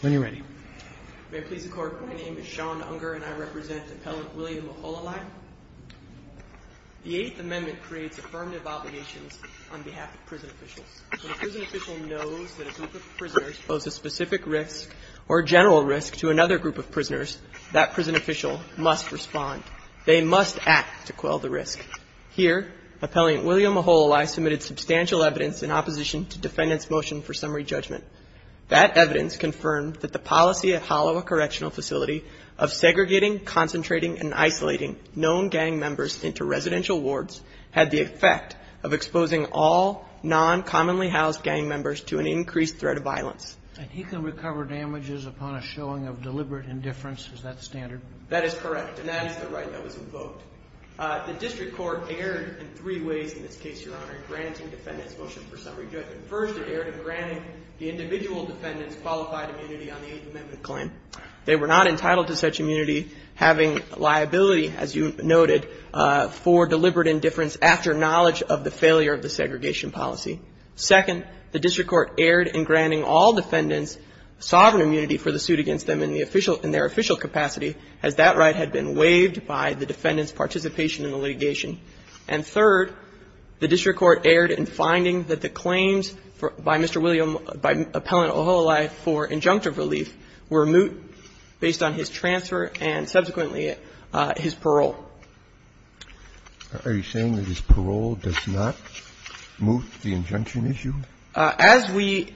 When you're ready. May it please the Court, my name is Sean Unger and I represent Appellant William Aholelei. The Eighth Amendment creates affirmative obligations on behalf of prison officials. When a prison official knows that a group of prisoners pose a specific risk or general risk to another group of prisoners, that prison official must respond. They must act to quell the risk. Here, Appellant William Aholelei submitted substantial evidence in opposition to Defendant's motion for summary judgment. That evidence confirmed that the policy at Hollowa Correctional Facility of segregating, concentrating, and isolating known gang members into residential wards had the effect of exposing all non-commonly housed gang members to an increased threat of violence. And he can recover damages upon a showing of deliberate indifference, is that standard? That is correct, and that is the right that was invoked. The District Court erred in three ways in this case, Your Honor, granting Defendant's motion for summary judgment. First, it erred in granting the individual Defendant's qualified immunity on the Eighth Amendment claim. They were not entitled to such immunity, having liability, as you noted, for deliberate indifference after knowledge of the failure of the segregation policy. Second, the District Court erred in granting all Defendants sovereign immunity for the suit against them in their official capacity, as that right had been waived by the Defendant's participation in the litigation. And third, the District Court erred in finding that the claims by Mr. William, by Appellant Aholelei for injunctive relief were moot based on his transfer and subsequently his parole. Are you saying that his parole does not moot the injunction issue? As we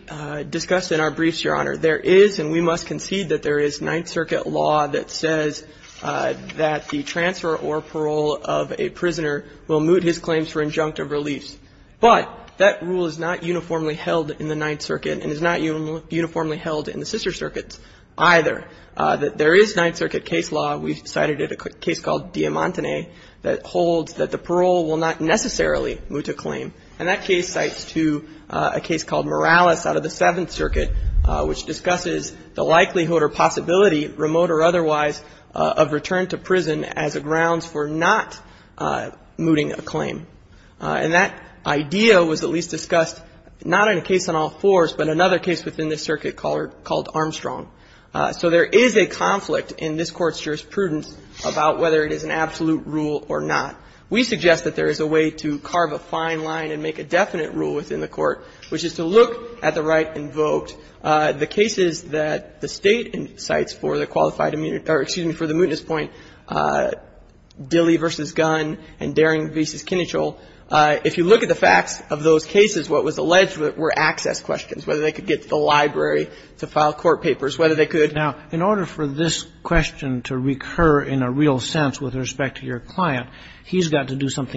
discussed in our briefs, Your Honor, there is, and we must concede that there is, Ninth Circuit law that says that the transfer or parole of a prisoner will moot his claims for injunctive reliefs. But that rule is not uniformly held in the Ninth Circuit and is not uniformly held in the sister circuits either, that there is Ninth Circuit case law. We cited a case called Diamantene that holds that the parole will not necessarily moot a claim. And that case cites, too, a case called Morales out of the Seventh Circuit, which discusses the likelihood or possibility, remote or otherwise, of return to prison as a grounds for not mooting a claim. And that idea was at least discussed not in a case on all fours, but another case within this circuit called Armstrong. So there is a conflict in this Court's jurisprudence about whether it is an absolute rule or not. We suggest that there is a way to carve a fine line and make a definite rule within the Court, which is to look at the right invoked, the cases that the State cites for the qualified immunity or, excuse me, for the mootness point, Dilley v. Gunn and Daring v. Kinnitchell. If you look at the facts of those cases, what was alleged were access questions, whether they could get to the library to file court papers, whether they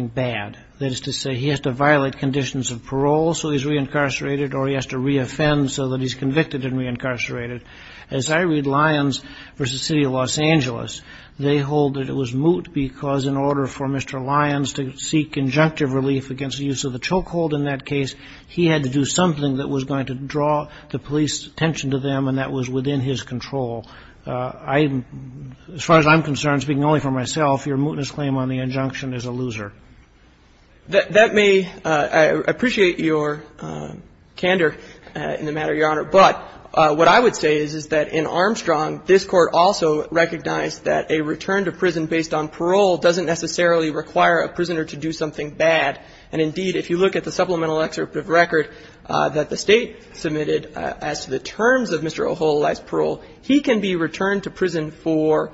bad. That is to say, he has to violate conditions of parole so he's reincarcerated or he has to reoffend so that he's convicted and reincarcerated. As I read Lyons v. City of Los Angeles, they hold that it was moot because in order for Mr. Lyons to seek injunctive relief against the use of the chokehold in that case, he had to do something that was going to draw the police attention to them, and that was within his control. As far as I'm concerned, speaking only for myself, your mootness claim on the injunction is a loser. That may — I appreciate your candor in the matter, Your Honor, but what I would say is that in Armstrong, this Court also recognized that a return to prison based on parole doesn't necessarily require a prisoner to do something bad. And indeed, if you look at the supplemental excerpt of record that the State submitted as to the terms of Mr. O'Hole life's parole, he can be returned to prison for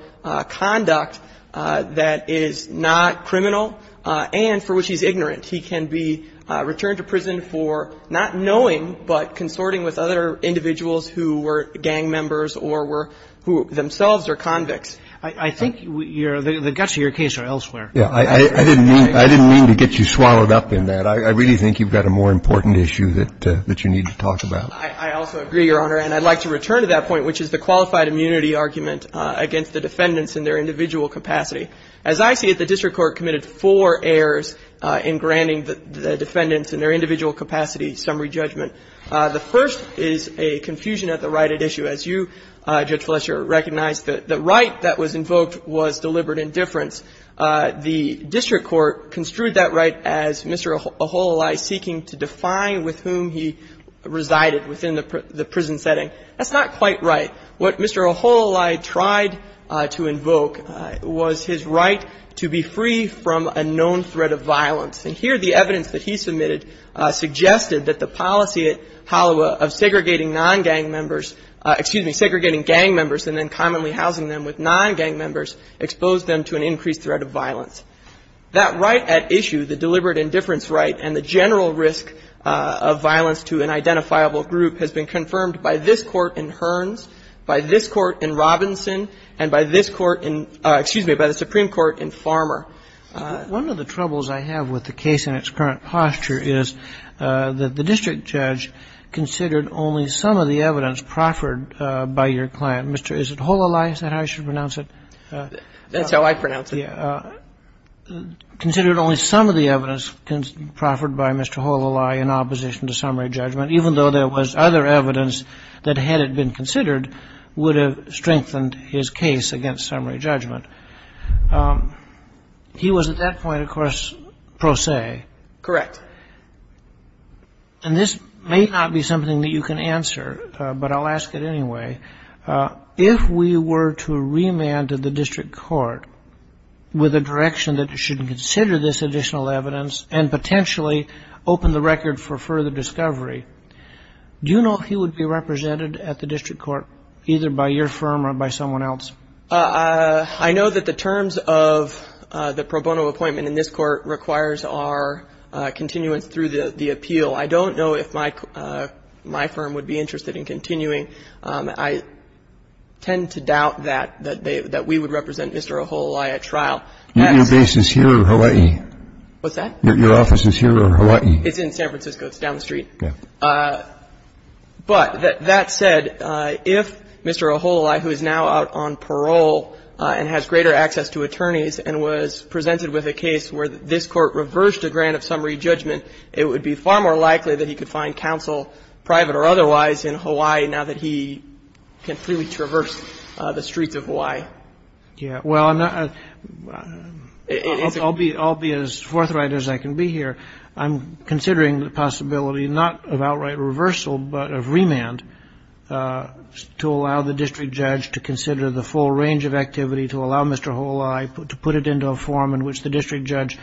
conduct that is not criminal and for which he's ignorant. He can be returned to prison for not knowing but consorting with other individuals who were gang members or were — who themselves are convicts. I think the guts of your case are elsewhere. I didn't mean to get you swallowed up in that. I really think you've got a more important issue that you need to talk about. I also agree, Your Honor, and I'd like to return to that point, which is the qualified immunity argument against the defendants in their individual capacity. As I see it, the district court committed four errors in granting the defendants in their individual capacity summary judgment. The first is a confusion at the right at issue. As you, Judge Fletcher, recognize, the right that was invoked was deliberate indifference. The district court construed that right as Mr. O'Hole seeking to define with whom he resided. That's not quite right. What Mr. O'Hole tried to invoke was his right to be free from a known threat of violence. And here, the evidence that he submitted suggested that the policy at Holiwa of segregating non-gang members — excuse me, segregating gang members and then commonly housing them with non-gang members exposed them to an increased threat of violence. That right at issue, the deliberate indifference right, and the general risk of violence to an identifiable group has been confirmed by this Court in Hearns, by this Court in Robinson, and by this Court in — excuse me, by the Supreme Court in Farmer. One of the troubles I have with the case in its current posture is that the district judge considered only some of the evidence proffered by your client. Mr. — is it Holilai? Is that how you should pronounce it? That's how I pronounce it. Yeah. Considered only some of the evidence proffered by Mr. Holilai in opposition to summary judgment, even though there was other evidence that had it been considered, would have strengthened his case against summary judgment. He was at that point, of course, pro se. Correct. And this may not be something that you can answer, but I'll ask it anyway. If we were to remand the district court with a direction that it shouldn't consider this additional evidence and potentially open the record for further discovery, do you know if he would be represented at the district court either by your firm or by someone else? I know that the terms of the pro bono appointment in this Court requires our continuance through the appeal. I don't know if my firm would be interested in continuing. I tend to doubt that we would represent Mr. Holilai at trial. Your base is here or Hawaii? What's that? Your office is here or Hawaii? It's in San Francisco. It's down the street. Okay. But that said, if Mr. Holilai, who is now out on parole and has greater access to attorneys and was presented with a case where this Court reversed a grant of summary judgment, it would be far more likely that he could find counsel, private or otherwise, in Hawaii now that he can freely traverse the streets of Hawaii. Yeah. Well, I'll be as forthright as I can be here. I'm considering the possibility not of outright reversal but of remand to allow the district judge to consider the full range of activity to allow Mr. Holilai to put it into a form in which the district judge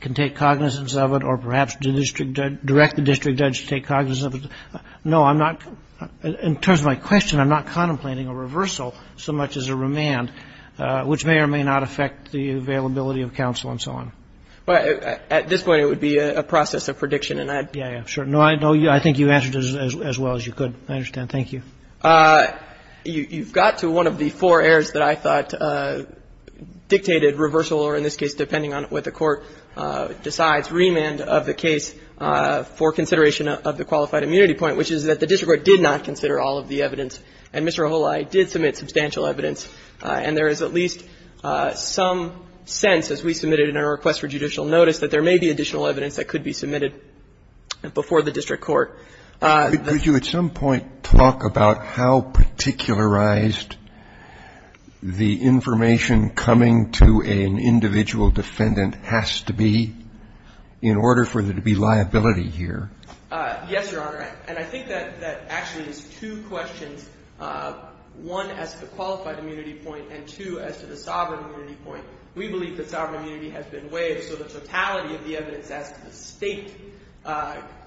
can take cognizance of it or perhaps direct the district judge to take cognizance of it. No, I'm not. In terms of my question, I'm not contemplating a reversal so much as a remand, which may or may not affect the availability of counsel and so on. At this point, it would be a process of prediction. Yeah, yeah, sure. No, I think you answered as well as you could. I understand. Thank you. You've got to one of the four errors that I thought dictated reversal or, in this case, depending on what the Court decides, remand of the case for consideration of the qualified immunity point, which is that the district court did not consider all of the evidence, and Mr. Holilai did submit substantial evidence. And there is at least some sense, as we submitted in our request for judicial notice, that there may be additional evidence that could be submitted before the district court. Could you at some point talk about how particularized the information coming to an individual defendant has to be in order for there to be liability here? Yes, Your Honor. And I think that actually is two questions, one as to the qualified immunity point and two as to the sovereign immunity point. We believe that sovereign immunity has been waived, so the totality of the evidence as to the state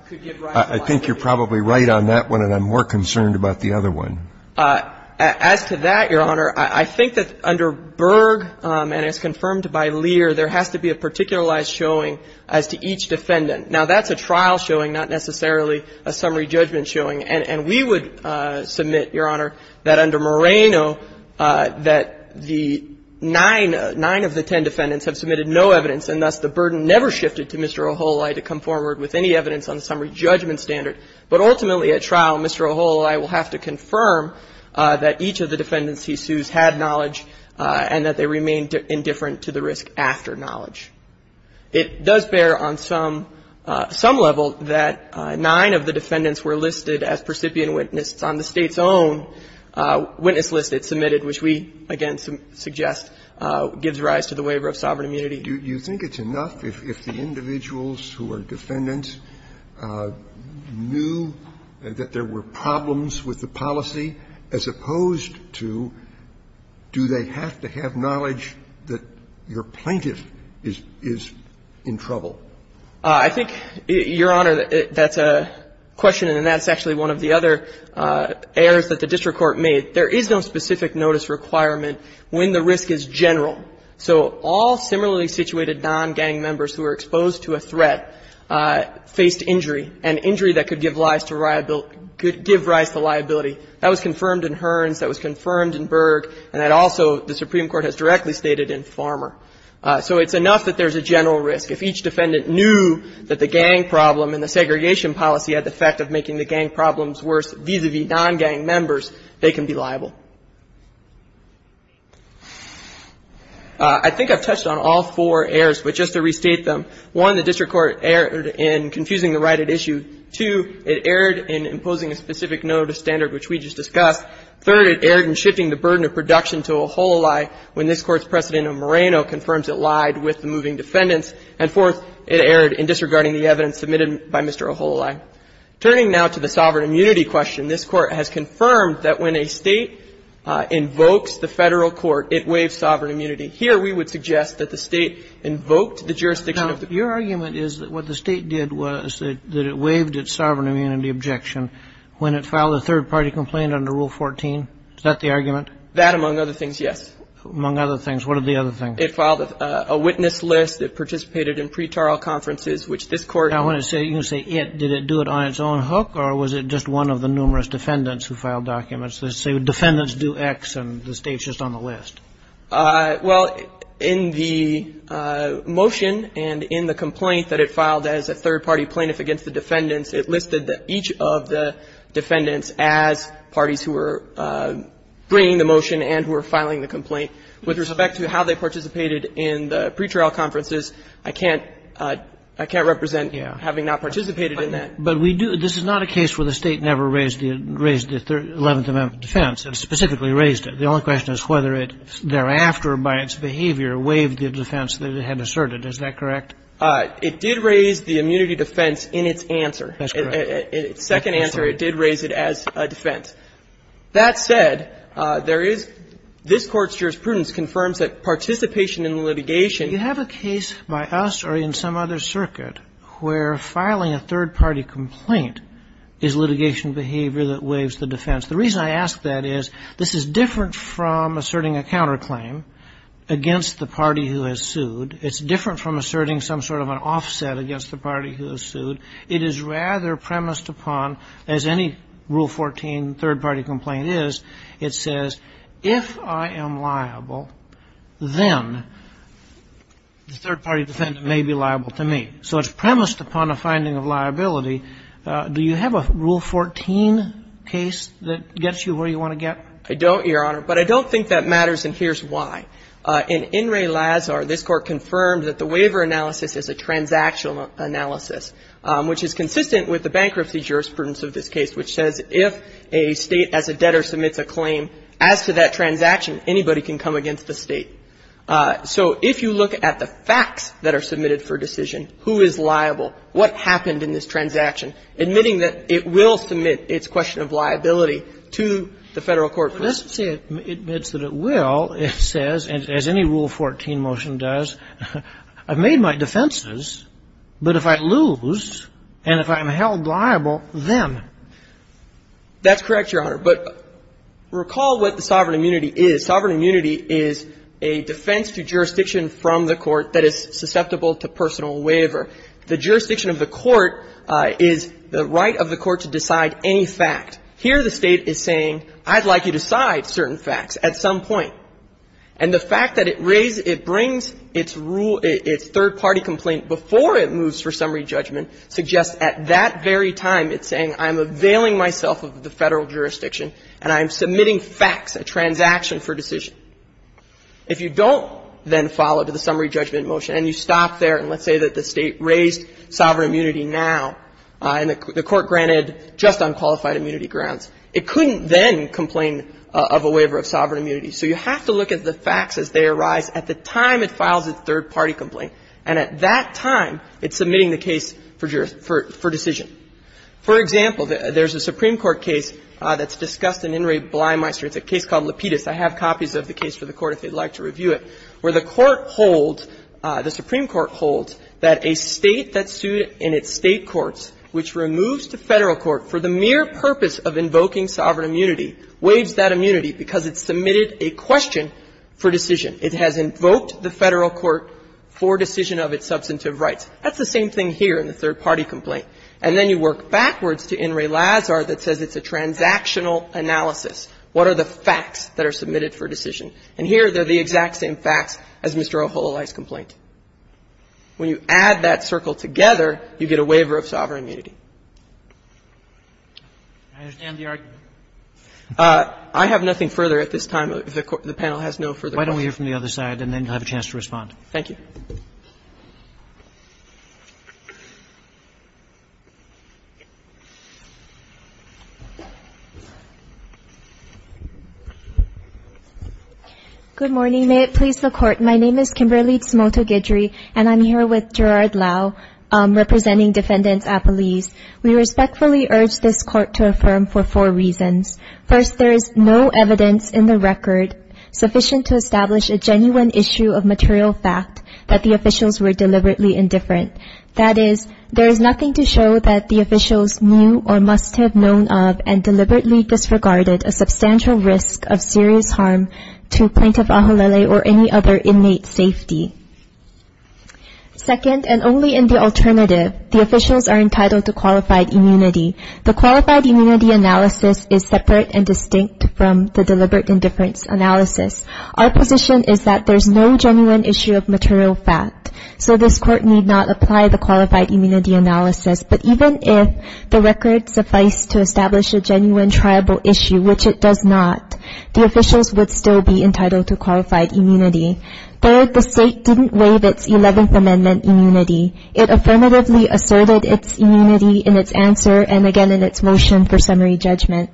could give rise to liability. I think you're probably right on that one, and I'm more concerned about the other one. As to that, Your Honor, I think that under Berg and as confirmed by Lear, there has to be a particularized showing as to each defendant. Now, that's a trial showing, not necessarily a summary judgment showing. And we would submit, Your Honor, that under Moreno, that the nine of the ten defendants have submitted no evidence, and thus the burden never shifted to Mr. Ohololai to come forward with any evidence on the summary judgment standard. But ultimately at trial, Mr. Ohololai will have to confirm that each of the defendants he sues had knowledge and that they remained indifferent to the risk after knowledge. It does bear on some level that nine of the defendants were listed as percipient witnesses on the State's own witness list it submitted, which we, again, suggest gives rise to the waiver of sovereign immunity. Do you think it's enough if the individuals who are defendants knew that there were problems with the policy as opposed to do they have to have knowledge that your plaintiff is in trouble? I think, Your Honor, that's a question, and that's actually one of the other errors that the district court made. There is no specific notice requirement when the risk is general. So all similarly situated non-gang members who are exposed to a threat faced injury, and injury that could give rise to liability. That was confirmed in Hearns. That was confirmed in Berg. And that also the Supreme Court has directly stated in Farmer. So it's enough that there's a general risk. If each defendant knew that the gang problem and the segregation policy had the effect of making the gang problems worse vis-a-vis non-gang members, they can be liable. I think I've touched on all four errors, but just to restate them. One, the district court erred in confusing the right at issue. Two, it erred in imposing a specific notice standard, which we just discussed. Third, it erred in shifting the burden of production to Ohololai when this Court's precedent of Moreno confirms it lied with the moving defendants. And fourth, it erred in disregarding the evidence submitted by Mr. Ohololai. Turning now to the sovereign immunity question, this Court has confirmed that when a State invokes the Federal court, it waives sovereign immunity. Here we would suggest that the State invoked the jurisdiction of the Federal court. Your argument is that what the State did was that it waived its sovereign immunity objection when it filed a third-party complaint under Rule 14. Is that the argument? That, among other things, yes. Among other things. What are the other things? It filed a witness list. It participated in pretrial conferences, which this Court. I want to say, you can say it. Did it do it on its own hook, or was it just one of the numerous defendants who filed documents that say defendants do X and the State's just on the list? Well, in the motion and in the complaint that it filed as a third-party plaintiff against the defendants, it listed each of the defendants as parties who were bringing the motion and who were filing the complaint. With respect to how they participated in the pretrial conferences, I can't represent having not participated in that. But we do. This is not a case where the State never raised the Eleventh Amendment defense. It specifically raised it. The only question is whether it thereafter, by its behavior, waived the defense that it had asserted. Is that correct? It did raise the immunity defense in its answer. That's correct. In its second answer, it did raise it as a defense. That said, there is this Court's jurisprudence confirms that participation in litigation. You have a case by us or in some other circuit where filing a third-party complaint is litigation behavior that waives the defense. The reason I ask that is this is different from asserting a counterclaim against the party who has sued. It's different from asserting some sort of an offset against the party who has sued. It is rather premised upon, as any Rule 14 third-party complaint is, it says, if I am liable, then the third-party defendant may be liable to me. So it's premised upon a finding of liability. Do you have a Rule 14 case that gets you where you want to get? I don't, Your Honor. But I don't think that matters, and here's why. In In re Lazar, this Court confirmed that the waiver analysis is a transactional analysis, which is consistent with the bankruptcy jurisprudence of this case, which says if a State as a debtor submits a claim as to that transaction, anybody can come against the State. So if you look at the facts that are submitted for decision, who is liable, what happened in this transaction, admitting that it will submit its question of liability to the Federal court. But it doesn't say it admits that it will. It says, as any Rule 14 motion does, I've made my defenses, but if I lose and if I'm held liable, then? That's correct, Your Honor. But recall what the sovereign immunity is. Sovereign immunity is a defense to jurisdiction from the court that is susceptible to personal waiver. The jurisdiction of the court is the right of the court to decide any fact. Here the State is saying, I'd like you to decide certain facts at some point. And the fact that it brings its third-party complaint before it moves for summary judgment suggests at that very time it's saying, I'm availing myself of the Federal jurisdiction and I'm submitting facts, a transaction for decision. If you don't then follow to the summary judgment motion and you stop there and let's say that the State raised sovereign immunity now and the court granted just unqualified immunity grounds, it couldn't then complain of a waiver of sovereign immunity. So you have to look at the facts as they arise at the time it files its third-party complaint, and at that time it's submitting the case for decision. For example, there's a Supreme Court case that's discussed in In re Blymeister. It's a case called Lapidus. I have copies of the case for the Court if you'd like to review it, where the Court holds, the Supreme Court holds that a State that sued in its State courts which removes the Federal court for the mere purpose of invoking sovereign immunity waives that immunity because it submitted a question for decision. It has invoked the Federal court for decision of its substantive rights. That's the same thing here in the third-party complaint. And then you work backwards to In re Lazar that says it's a transactional analysis. What are the facts that are submitted for decision? And here, they're the exact same facts as Mr. O'Holaly's complaint. When you add that circle together, you get a waiver of sovereign immunity. I understand the argument. I have nothing further at this time. The panel has no further questions. Why don't we hear from the other side, and then you'll have a chance to respond. Thank you. Good morning. May it please the Court. My name is Kimberly Tsumoto-Gidry, and I'm here with Gerard Lau representing defendants at police. We respectfully urge this Court to affirm for four reasons. First, there is no evidence in the record sufficient to establish a genuine issue of material fact that the officials were deliberately indifferent. That is, there is nothing to show that the officials knew or must have known of and deliberately disregarded a substantial risk of serious harm to Plaintiff O'Holaly or any other inmate's safety. Second, and only in the alternative, the officials are entitled to qualified immunity. The qualified immunity analysis is separate and distinct from the deliberate indifference analysis. Our position is that there is no genuine issue of material fact, so this Court need not apply the qualified immunity analysis. But even if the record sufficed to establish a genuine, triable issue, which it does not, the officials would still be entitled to qualified immunity. Third, the State didn't waive its Eleventh Amendment immunity. It affirmatively asserted its immunity in its answer and, again, in its motion for summary judgment.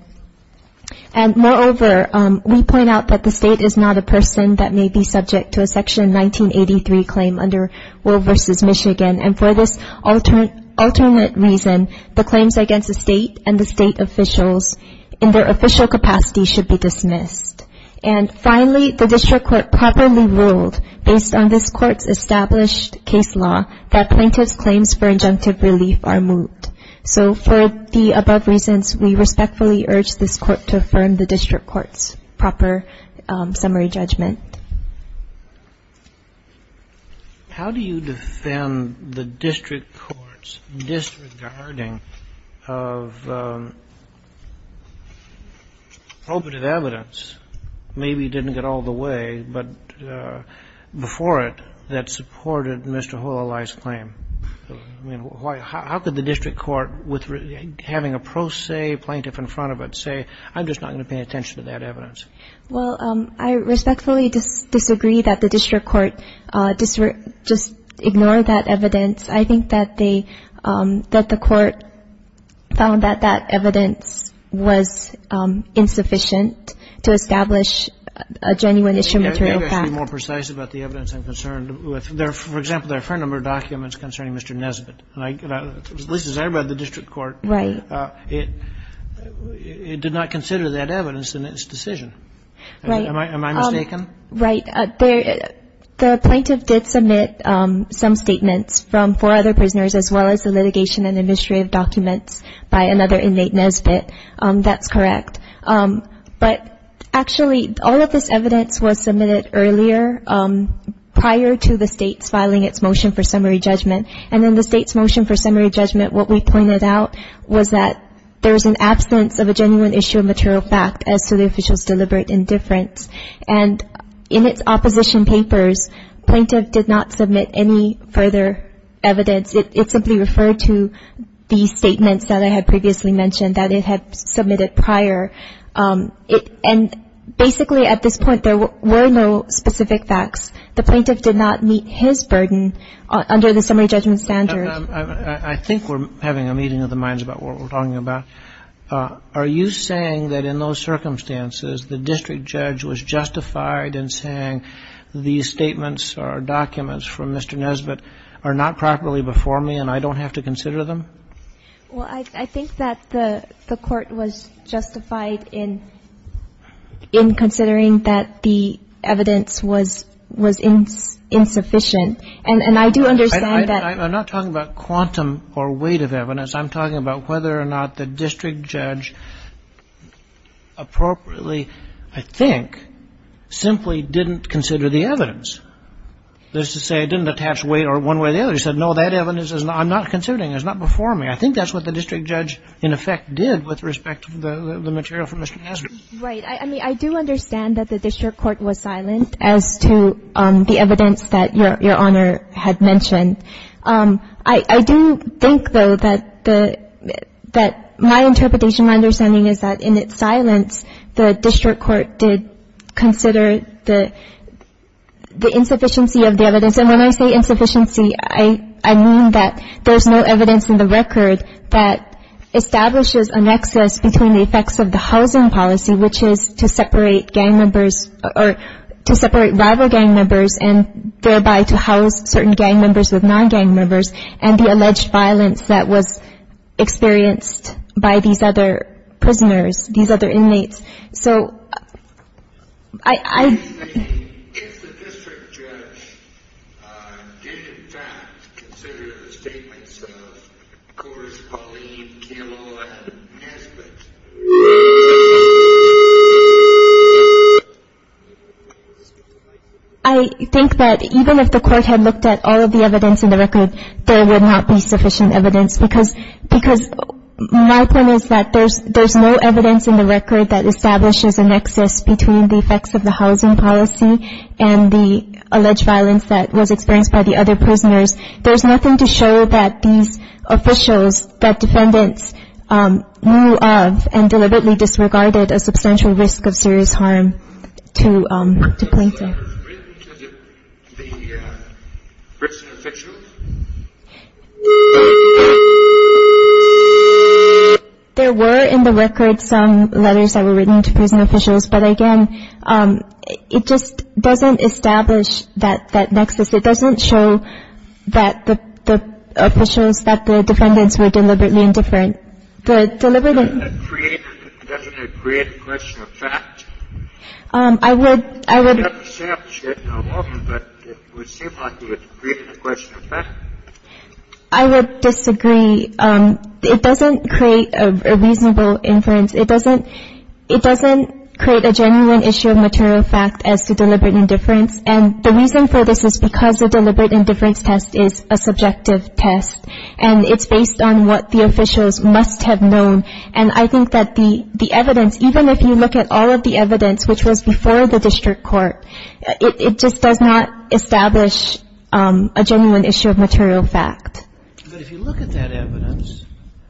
And, moreover, we point out that the State is not a person that may be subject to a Section 1983 claim under Will v. Michigan. And for this alternate reason, the claims against the State and the State officials in their official capacity should be dismissed. And, finally, the District Court properly ruled, based on this Court's established case law, that plaintiff's claims for injunctive relief are moved. So for the above reasons, we respectfully urge this Court to affirm the District Court's proper summary judgment. How do you defend the District Court's disregarding of probative evidence, maybe didn't get all the way, but before it, that supported Mr. Hololai's claim? I mean, how could the District Court, with having a pro se plaintiff in front of it, say, I'm just not going to pay attention to that evidence? Well, I respectfully disagree that the District Court just ignored that evidence. I think that the Court found that that evidence was insufficient to establish a genuine issue material fact. You have to be more precise about the evidence I'm concerned with. For example, there are a fair number of documents concerning Mr. Nesbitt. At least as I read the District Court. Right. It did not consider that evidence in its decision. Right. Am I mistaken? Right. The plaintiff did submit some statements from four other prisoners as well as the litigation and administrative documents by another inmate, Nesbitt. That's correct. But actually, all of this evidence was submitted earlier prior to the State's filing its motion for summary judgment. And in the State's motion for summary judgment, what we pointed out was that there is an absence of a genuine issue of material fact as to the official's deliberate indifference. And in its opposition papers, plaintiff did not submit any further evidence. It simply referred to the statements that I had previously mentioned that it had submitted prior. And basically at this point, there were no specific facts. The plaintiff did not meet his burden under the summary judgment standard. I think we're having a meeting of the minds about what we're talking about. Are you saying that in those circumstances, the district judge was justified in saying these statements or documents from Mr. Nesbitt are not properly before me and I don't have to consider them? Well, I think that the Court was justified in considering that the evidence was insufficient. And I do understand that. I'm not talking about quantum or weight of evidence. I'm talking about whether or not the district judge appropriately, I think, simply didn't consider the evidence. That is to say, didn't attach weight one way or the other. He said, no, that evidence I'm not considering. It's not before me. I think that's what the district judge in effect did with respect to the material from Mr. Nesbitt. Right. I mean, I do understand that the district court was silent as to the evidence that Your Honor had mentioned. I do think, though, that the – that my interpretation, my understanding is that in its silence, the district court did consider the insufficiency of the evidence. And when I say insufficiency, I mean that there's no evidence in the record that establishes a nexus between the effects of the housing policy, which is to separate gang members or to separate rival gang members and thereby to house certain gang members with non-gang members and the alleged violence that was experienced by these other prisoners, these other inmates. So, I – Excuse me. If the district judge did, in fact, consider the statements of, of course, Pauline Kimmel and Nesbitt. I think that even if the court had looked at all of the evidence in the record, there would not be sufficient evidence because, because my point is that there's, there's no evidence in the record that establishes a nexus between the effects of the housing policy and the alleged violence that was experienced by the other prisoners. There's nothing to show that these officials, that defendants knew of and deliberately disregarded a substantial risk of serious harm to, to Pauline Kimmel. Was there a letter written to the prison officials? There were in the record some letters that were written to prison officials, but again, it just doesn't establish that, that nexus. It doesn't show that the, the officials, that the defendants were deliberately indifferent. The deliberate Doesn't it create, doesn't it create a question of fact? I would, I would It would seem like it would create a question of fact. I would disagree. It doesn't create a reasonable inference. It doesn't, it doesn't create a genuine issue of material fact as to deliberate indifference. And the reason for this is because the deliberate indifference test is a subjective test, and it's based on what the officials must have known. And I think that the, the evidence, even if you look at all of the evidence which was before the district court, it, it just does not establish a genuine issue of material fact. But if you look at that evidence,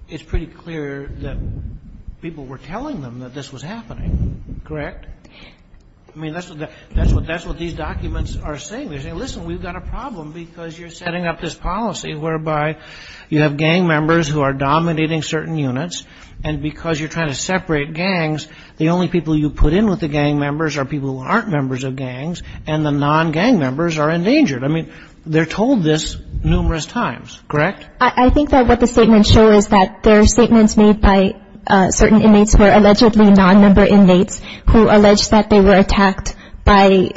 it's pretty clear that people were telling them that this was happening, correct? I mean, that's what the, that's what, that's what these documents are saying. They're saying, listen, we've got a problem because you're setting up this policy whereby you have gang members who are dominating certain units, and because you're trying to separate gangs, the only people you put in with the gang members are people who aren't members of gangs, and the non-gang members are endangered. I mean, they're told this numerous times, correct? I think that what the statements show is that there are statements made by certain inmates who are allegedly non-member inmates who allege that they were attacked by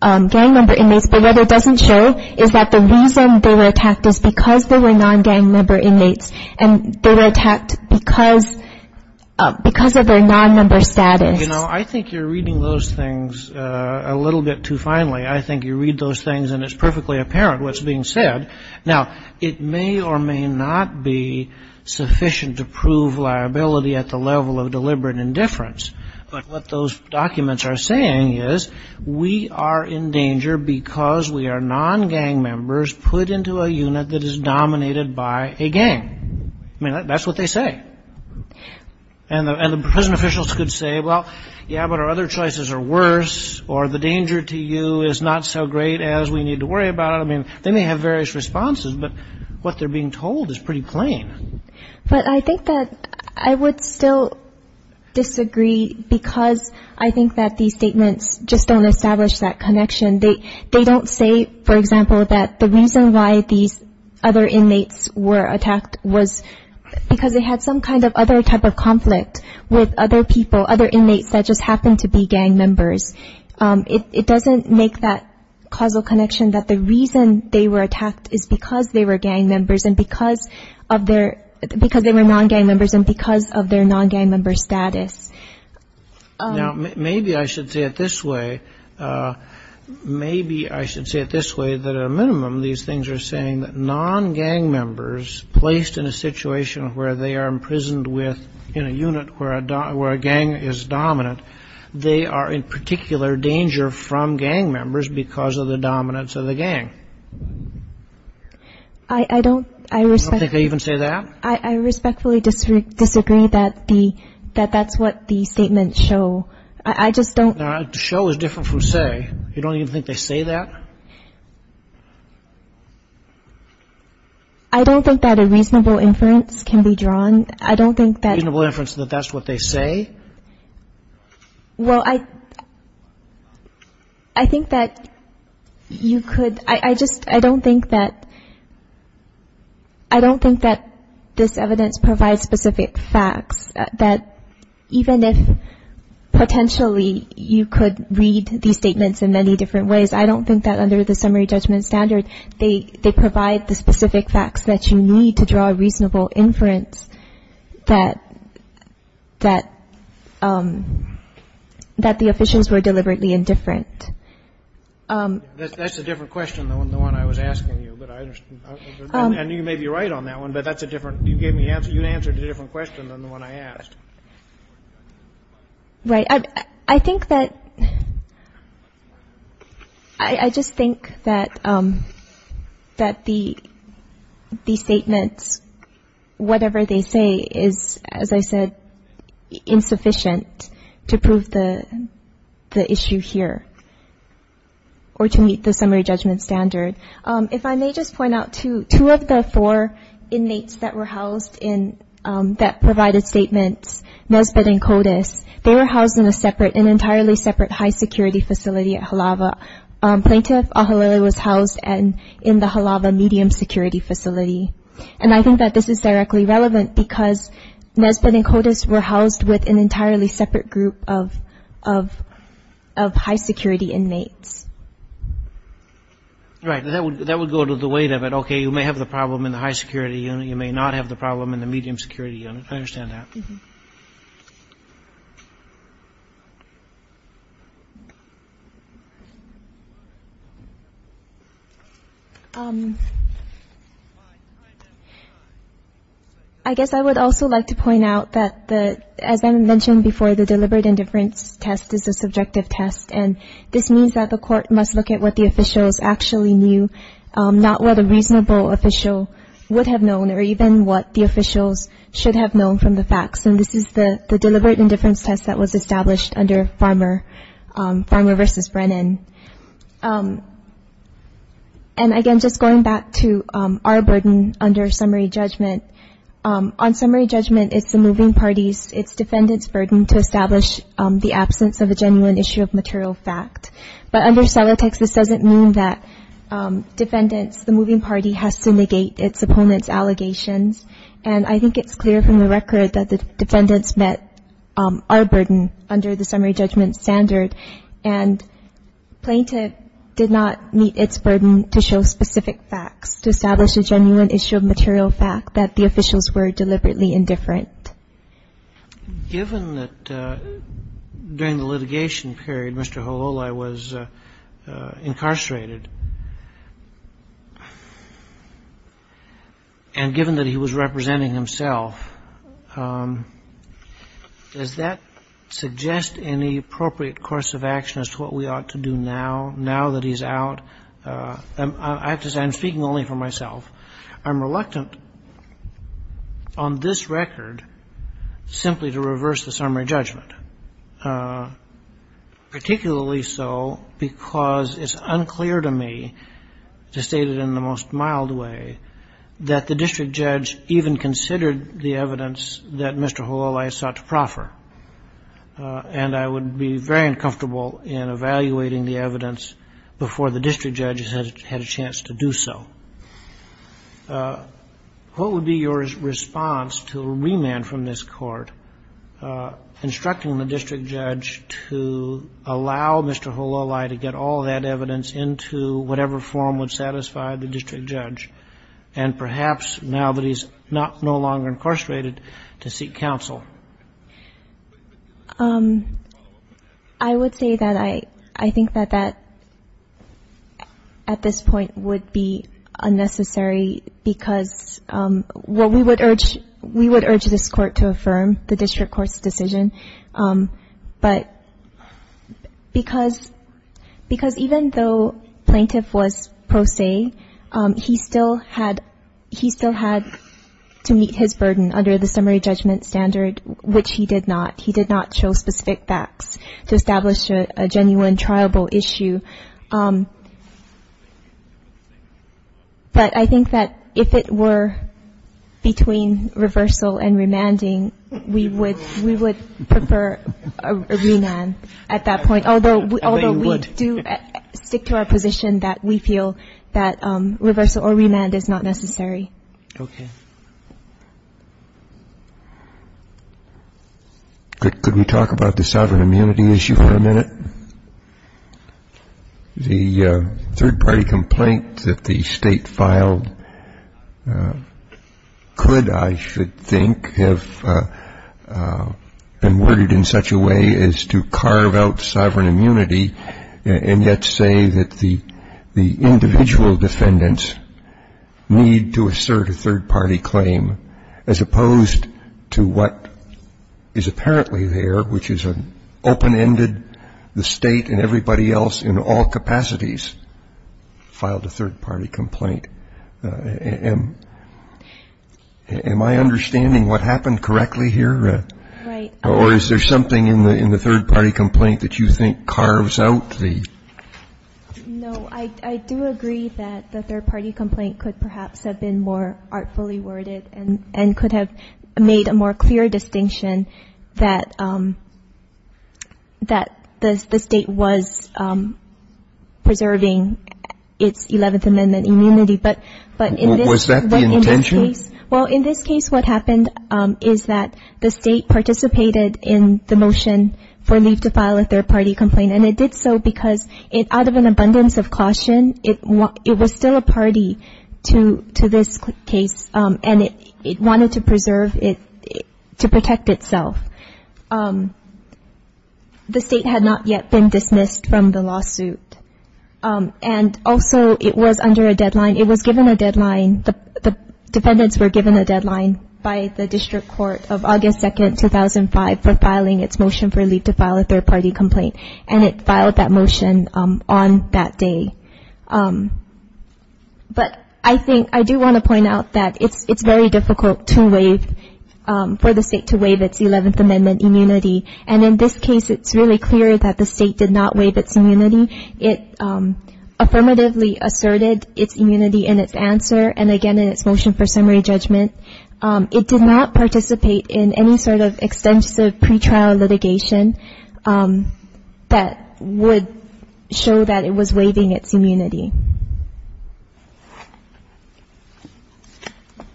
gang member inmates, but what it doesn't show is that the reason they were attacked is because they were non-gang member inmates, and they were attacked because, because of their non-member status. You know, I think you're reading those things a little bit too finely. I think you read those things, and it's perfectly apparent what's being said. Now, it may or may not be sufficient to prove liability at the level of deliberate indifference, but what those documents are saying is we are in danger because we are non-gang members put into a unit that is dominated by a gang. I mean, that's what they say. And the prison officials could say, well, yeah, but our other choices are worse, or the danger to you is not so great as we need to worry about it. I mean, they may have various responses, but what they're being told is pretty plain. But I think that I would still disagree because I think that these statements just don't establish that connection. They don't say, for example, that the reason why these other inmates were attacked was because they had some kind of other type of conflict with other people, other inmates that just happened to be gang members. It doesn't make that causal connection that the reason they were attacked is because they were gang members and because of their non-gang members and because of their non-gang member status. Now, maybe I should say it this way. Maybe I should say it this way, that at a minimum, these things are saying that non-gang members placed in a situation where they are imprisoned in a unit where a gang is dominant, they are in particular danger from gang members because of the dominance of the gang. I don't think they even say that. I respectfully disagree that that's what the statements show. I just don't. Now, show is different from say. You don't even think they say that? I don't think that a reasonable inference can be drawn. I don't think that. A reasonable inference that that's what they say? Well, I think that you could. I just don't think that this evidence provides specific facts, that even if potentially you could read these statements in many different ways, I don't think that under the summary judgment standard, they provide the specific facts that you need to draw a reasonable inference that the officials were deliberately indifferent. That's a different question than the one I was asking you, but I understand. And you may be right on that one, but that's a different. You gave me answer. You answered a different question than the one I asked. Right. I think that the statements, whatever they say, is, as I said, insufficient to prove the issue here or to meet the summary judgment standard. If I may just point out, too, two of the four inmates that were housed that provided statements, Nesbitt and Kodes, they were housed in an entirely separate high security facility at Halava. Plaintiff Ahaleli was housed in the Halava medium security facility. And I think that this is directly relevant, because Nesbitt and Kodes were housed with an entirely separate group of high security inmates. Right. That would go to the weight of it. Okay, you may have the problem in the high security unit. You may not have the problem in the medium security unit. I understand that. I guess I would also like to point out that, as I mentioned before, the deliberate indifference test is a subjective test, and this means that the court must look at what the officials actually knew, not what a reasonable official would have known or even what the officials should have known from the facts. And this is the deliberate indifference test that was established under Farmer versus Brennan. And, again, just going back to our burden under summary judgment, on summary judgment, it's the moving party's, its defendant's, burden to establish the absence of a genuine issue of material fact. But under Celotex, this doesn't mean that defendants, the moving party has to negate its opponent's allegations. And I think it's clear from the record that the defendants met our burden under the summary judgment standard, and plaintiff did not meet its burden to show specific facts, to establish a genuine issue of material fact, that the officials were deliberately indifferent. Sotomayor, given that during the litigation period Mr. Hololai was incarcerated and given that he was representing himself, does that suggest any appropriate course of action as to what we ought to do now, now that he's out? I have to say, I'm speaking only for myself. I'm reluctant on this record simply to reverse the summary judgment, particularly so because it's unclear to me, to state it in the most mild way, that the district judge even considered the evidence that Mr. Hololai sought to proffer. And I would be very uncomfortable in evaluating the evidence before the district judge had a chance to do so. What would be your response to a remand from this Court instructing the district judge to allow Mr. Hololai to get all that evidence into whatever form would satisfy the district judge, and perhaps now that he's no longer incarcerated, to seek counsel? I would say that I think that that, at this point, would be unnecessary because what we would urge, we would urge this Court to affirm the district court's decision, but because even though plaintiff was pro se, he still had to meet his burden under the summary judgment standard, which he did not. He did not show specific facts to establish a genuine triable issue. But I think that if it were between reversal and remanding, we would prefer a remand at that point, although we do stick to our position that we feel that reversal or remand is not necessary. Okay. Could we talk about the sovereign immunity issue for a minute? The third-party complaint that the State filed could, I should think, have been worded in such a way as to carve out sovereign immunity and yet say that the individual defendants need to assert a third-party claim, as opposed to what is apparently there, which is an open-ended, the State and everybody else in all capacities filed a third-party complaint. Am I understanding what happened correctly here? Right. Or is there something in the third-party complaint that you think carves out the ---- No. I do agree that the third-party complaint could perhaps have been more artfully worded and could have made a more clear distinction that the State was preserving its Eleventh Amendment immunity. But in this case ---- Was that the intention? Well, in this case, what happened is that the State participated in the motion for caution. It was still a party to this case, and it wanted to preserve it, to protect itself. The State had not yet been dismissed from the lawsuit. And also, it was under a deadline. It was given a deadline. The defendants were given a deadline by the District Court of August 2, 2005, for filing its motion for leave to file a third-party complaint. And it filed that motion on that day. But I do want to point out that it's very difficult for the State to waive its Eleventh Amendment immunity. And in this case, it's really clear that the State did not waive its immunity. It affirmatively asserted its immunity in its answer and, again, in its motion for summary judgment. It did not participate in any sort of extensive pretrial litigation that would show that it was waiving its immunity.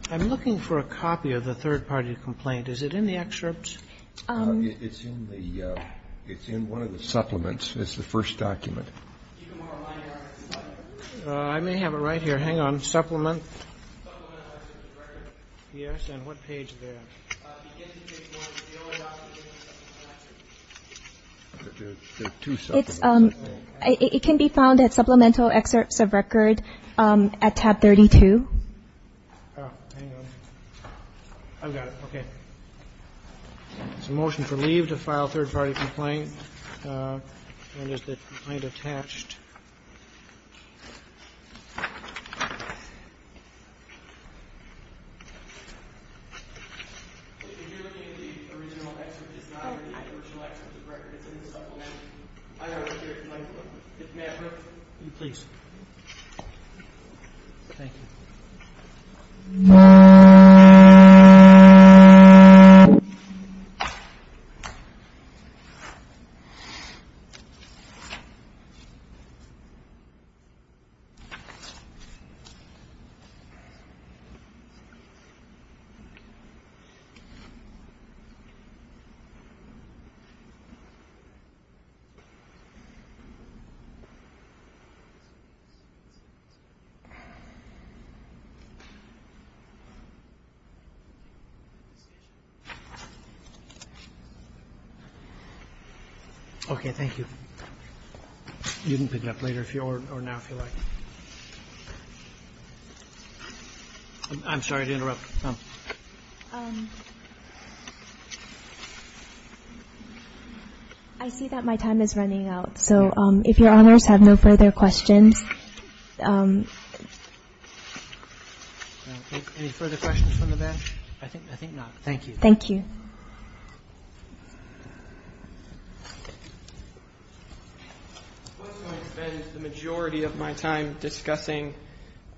I'm looking for a copy of the third-party complaint. Is it in the excerpt? It's in one of the supplements. It's the first document. Hang on. Supplement. Yes. And what page is that? It can be found at supplemental excerpts of record at tab 32. Oh, hang on. I've got it. Okay. It's a motion for leave to file a third-party complaint. And is the complaint attached? If you're looking at the original excerpt, it's not in the original excerpt of the record. It's in the supplement. May I have it? Please. Thank you. Thank you. Okay, thank you. You can pick it up later if you want or now if you like. I'm sorry to interrupt. I see that my time is running out. So if your honors have no further questions. Any further questions from the bench? I think not. Thank you. Thank you. The majority of my time discussing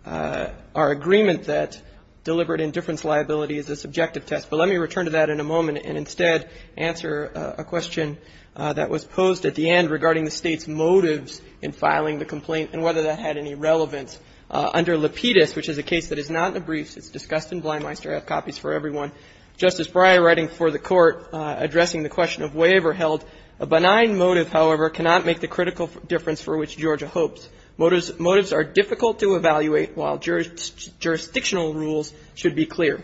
our agreement that deliberate indifference liability is a subjective test. But let me return to that in a moment and instead answer a question that was posed at the end regarding the State's motives in filing the complaint and whether that had any relevance. Under Lapidus, which is a case that is not in the briefs. It's discussed in Blymeister. I have copies for everyone. Justice Breyer writing for the Court addressing the question of waiver held, a benign motive, however, cannot make the critical difference for which Georgia hopes. Motives are difficult to evaluate, while jurisdictional rules should be clear.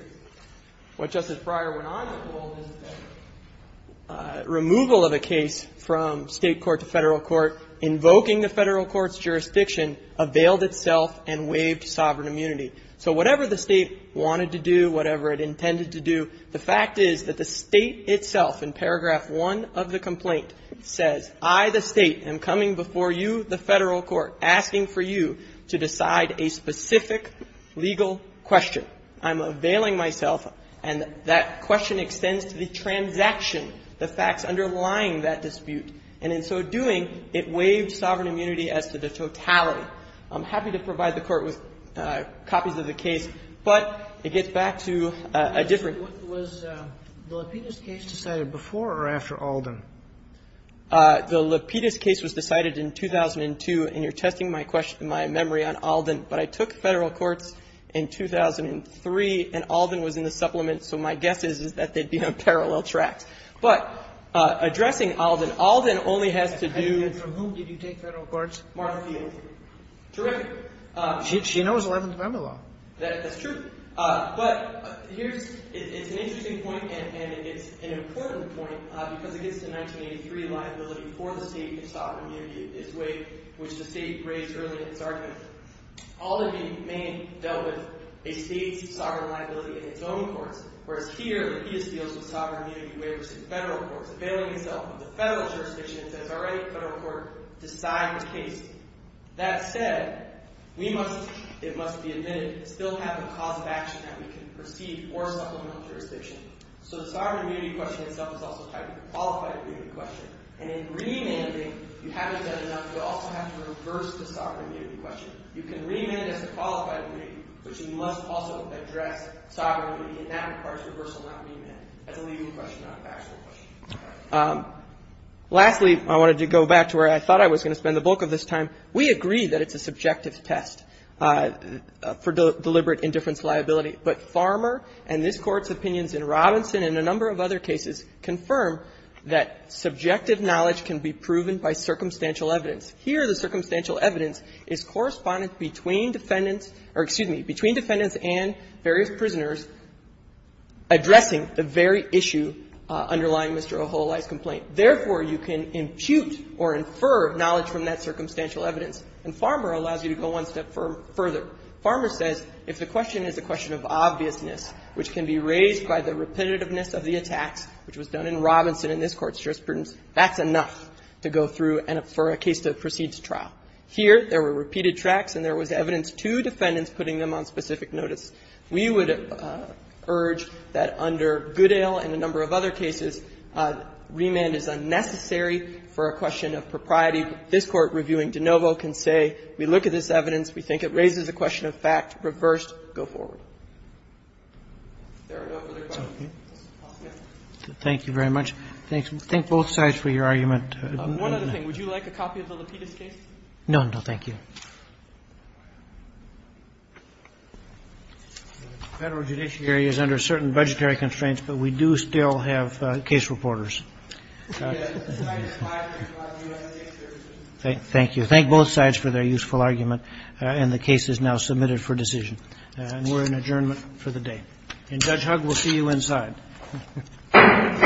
What Justice Breyer went on to hold is that removal of a case from State court to Federal court, invoking the Federal court's jurisdiction, availed itself and waived sovereign immunity. So whatever the State wanted to do, whatever it intended to do, the fact is that the State itself in paragraph one of the complaint says, I, the State, am coming before you, the Federal court, asking for you to decide a specific legal question. I'm availing myself. And that question extends to the transaction, the facts underlying that dispute. And in so doing, it waived sovereign immunity as to the totality. I'm happy to provide the Court with copies of the case, but it gets back to a different Was the Lapidus case decided before or after Alden? The Lapidus case was decided in 2002, and you're testing my memory on Alden. But I took Federal courts in 2003, and Alden was in the supplement, so my guess is, is that they'd be on parallel tracks. But addressing Alden, Alden only has to do with the case. And from whom did you take Federal courts? Martha Field. Terrific. She knows Eleventh Amendment law. That's true. But here's an interesting point, and it's an important point, because it gets to 1983 liability for the State in sovereign immunity in this way, which the State raised early in its argument. Alden may have dealt with a State's sovereign liability in its own courts, whereas here, Lapidus deals with sovereign immunity waivers in Federal courts, availing himself of the Federal jurisdiction, and says, all right, Federal court, decide the case. That said, we must, it must be admitted, still have a cause of action that we can proceed or supplement jurisdiction. So the sovereign immunity question itself is also tied to the qualified immunity question. And in remanding, you haven't done enough. You also have to reverse the sovereign immunity question. You can remand as a qualified immunity, but you must also address sovereign immunity. And that requires reversal, not remand. That's a legal question, not a factual question. Lastly, I wanted to go back to where I thought I was going to spend the bulk of this time. We agree that it's a subjective test for deliberate indifference liability. But Farmer and this Court's opinions in Robinson and a number of other cases confirm that subjective knowledge can be proven by circumstantial evidence. Here, the circumstantial evidence is correspondent between defendants or, excuse me, between defendants and various prisoners addressing the very issue underlying Mr. Oholai's complaint. Therefore, you can impute or infer knowledge from that circumstantial evidence. And Farmer allows you to go one step further. Farmer says if the question is a question of obviousness, which can be raised by the repetitiveness of the attacks, which was done in Robinson and this Court's jurisprudence, that's enough to go through for a case to proceed to trial. Here, there were repeated tracks and there was evidence to defendants putting them on specific notice. We would urge that under Goodale and a number of other cases, remand is unnecessary for a question of propriety. And I think this Court, reviewing DeNovo, can say we look at this evidence, we think it raises a question of fact, reversed, go forward. If there are no other questions. Roberts. Thank you very much. Thank both sides for your argument. One other thing. Would you like a copy of the Lapidus case? No, no, thank you. Federal judiciary is under certain budgetary constraints, but we do still have case reporters. Thank you. Thank both sides for their useful argument. And the case is now submitted for decision. And we're in adjournment for the day. And Judge Hugg, we'll see you inside. Thank you. Thank you. Thank you. Thank you.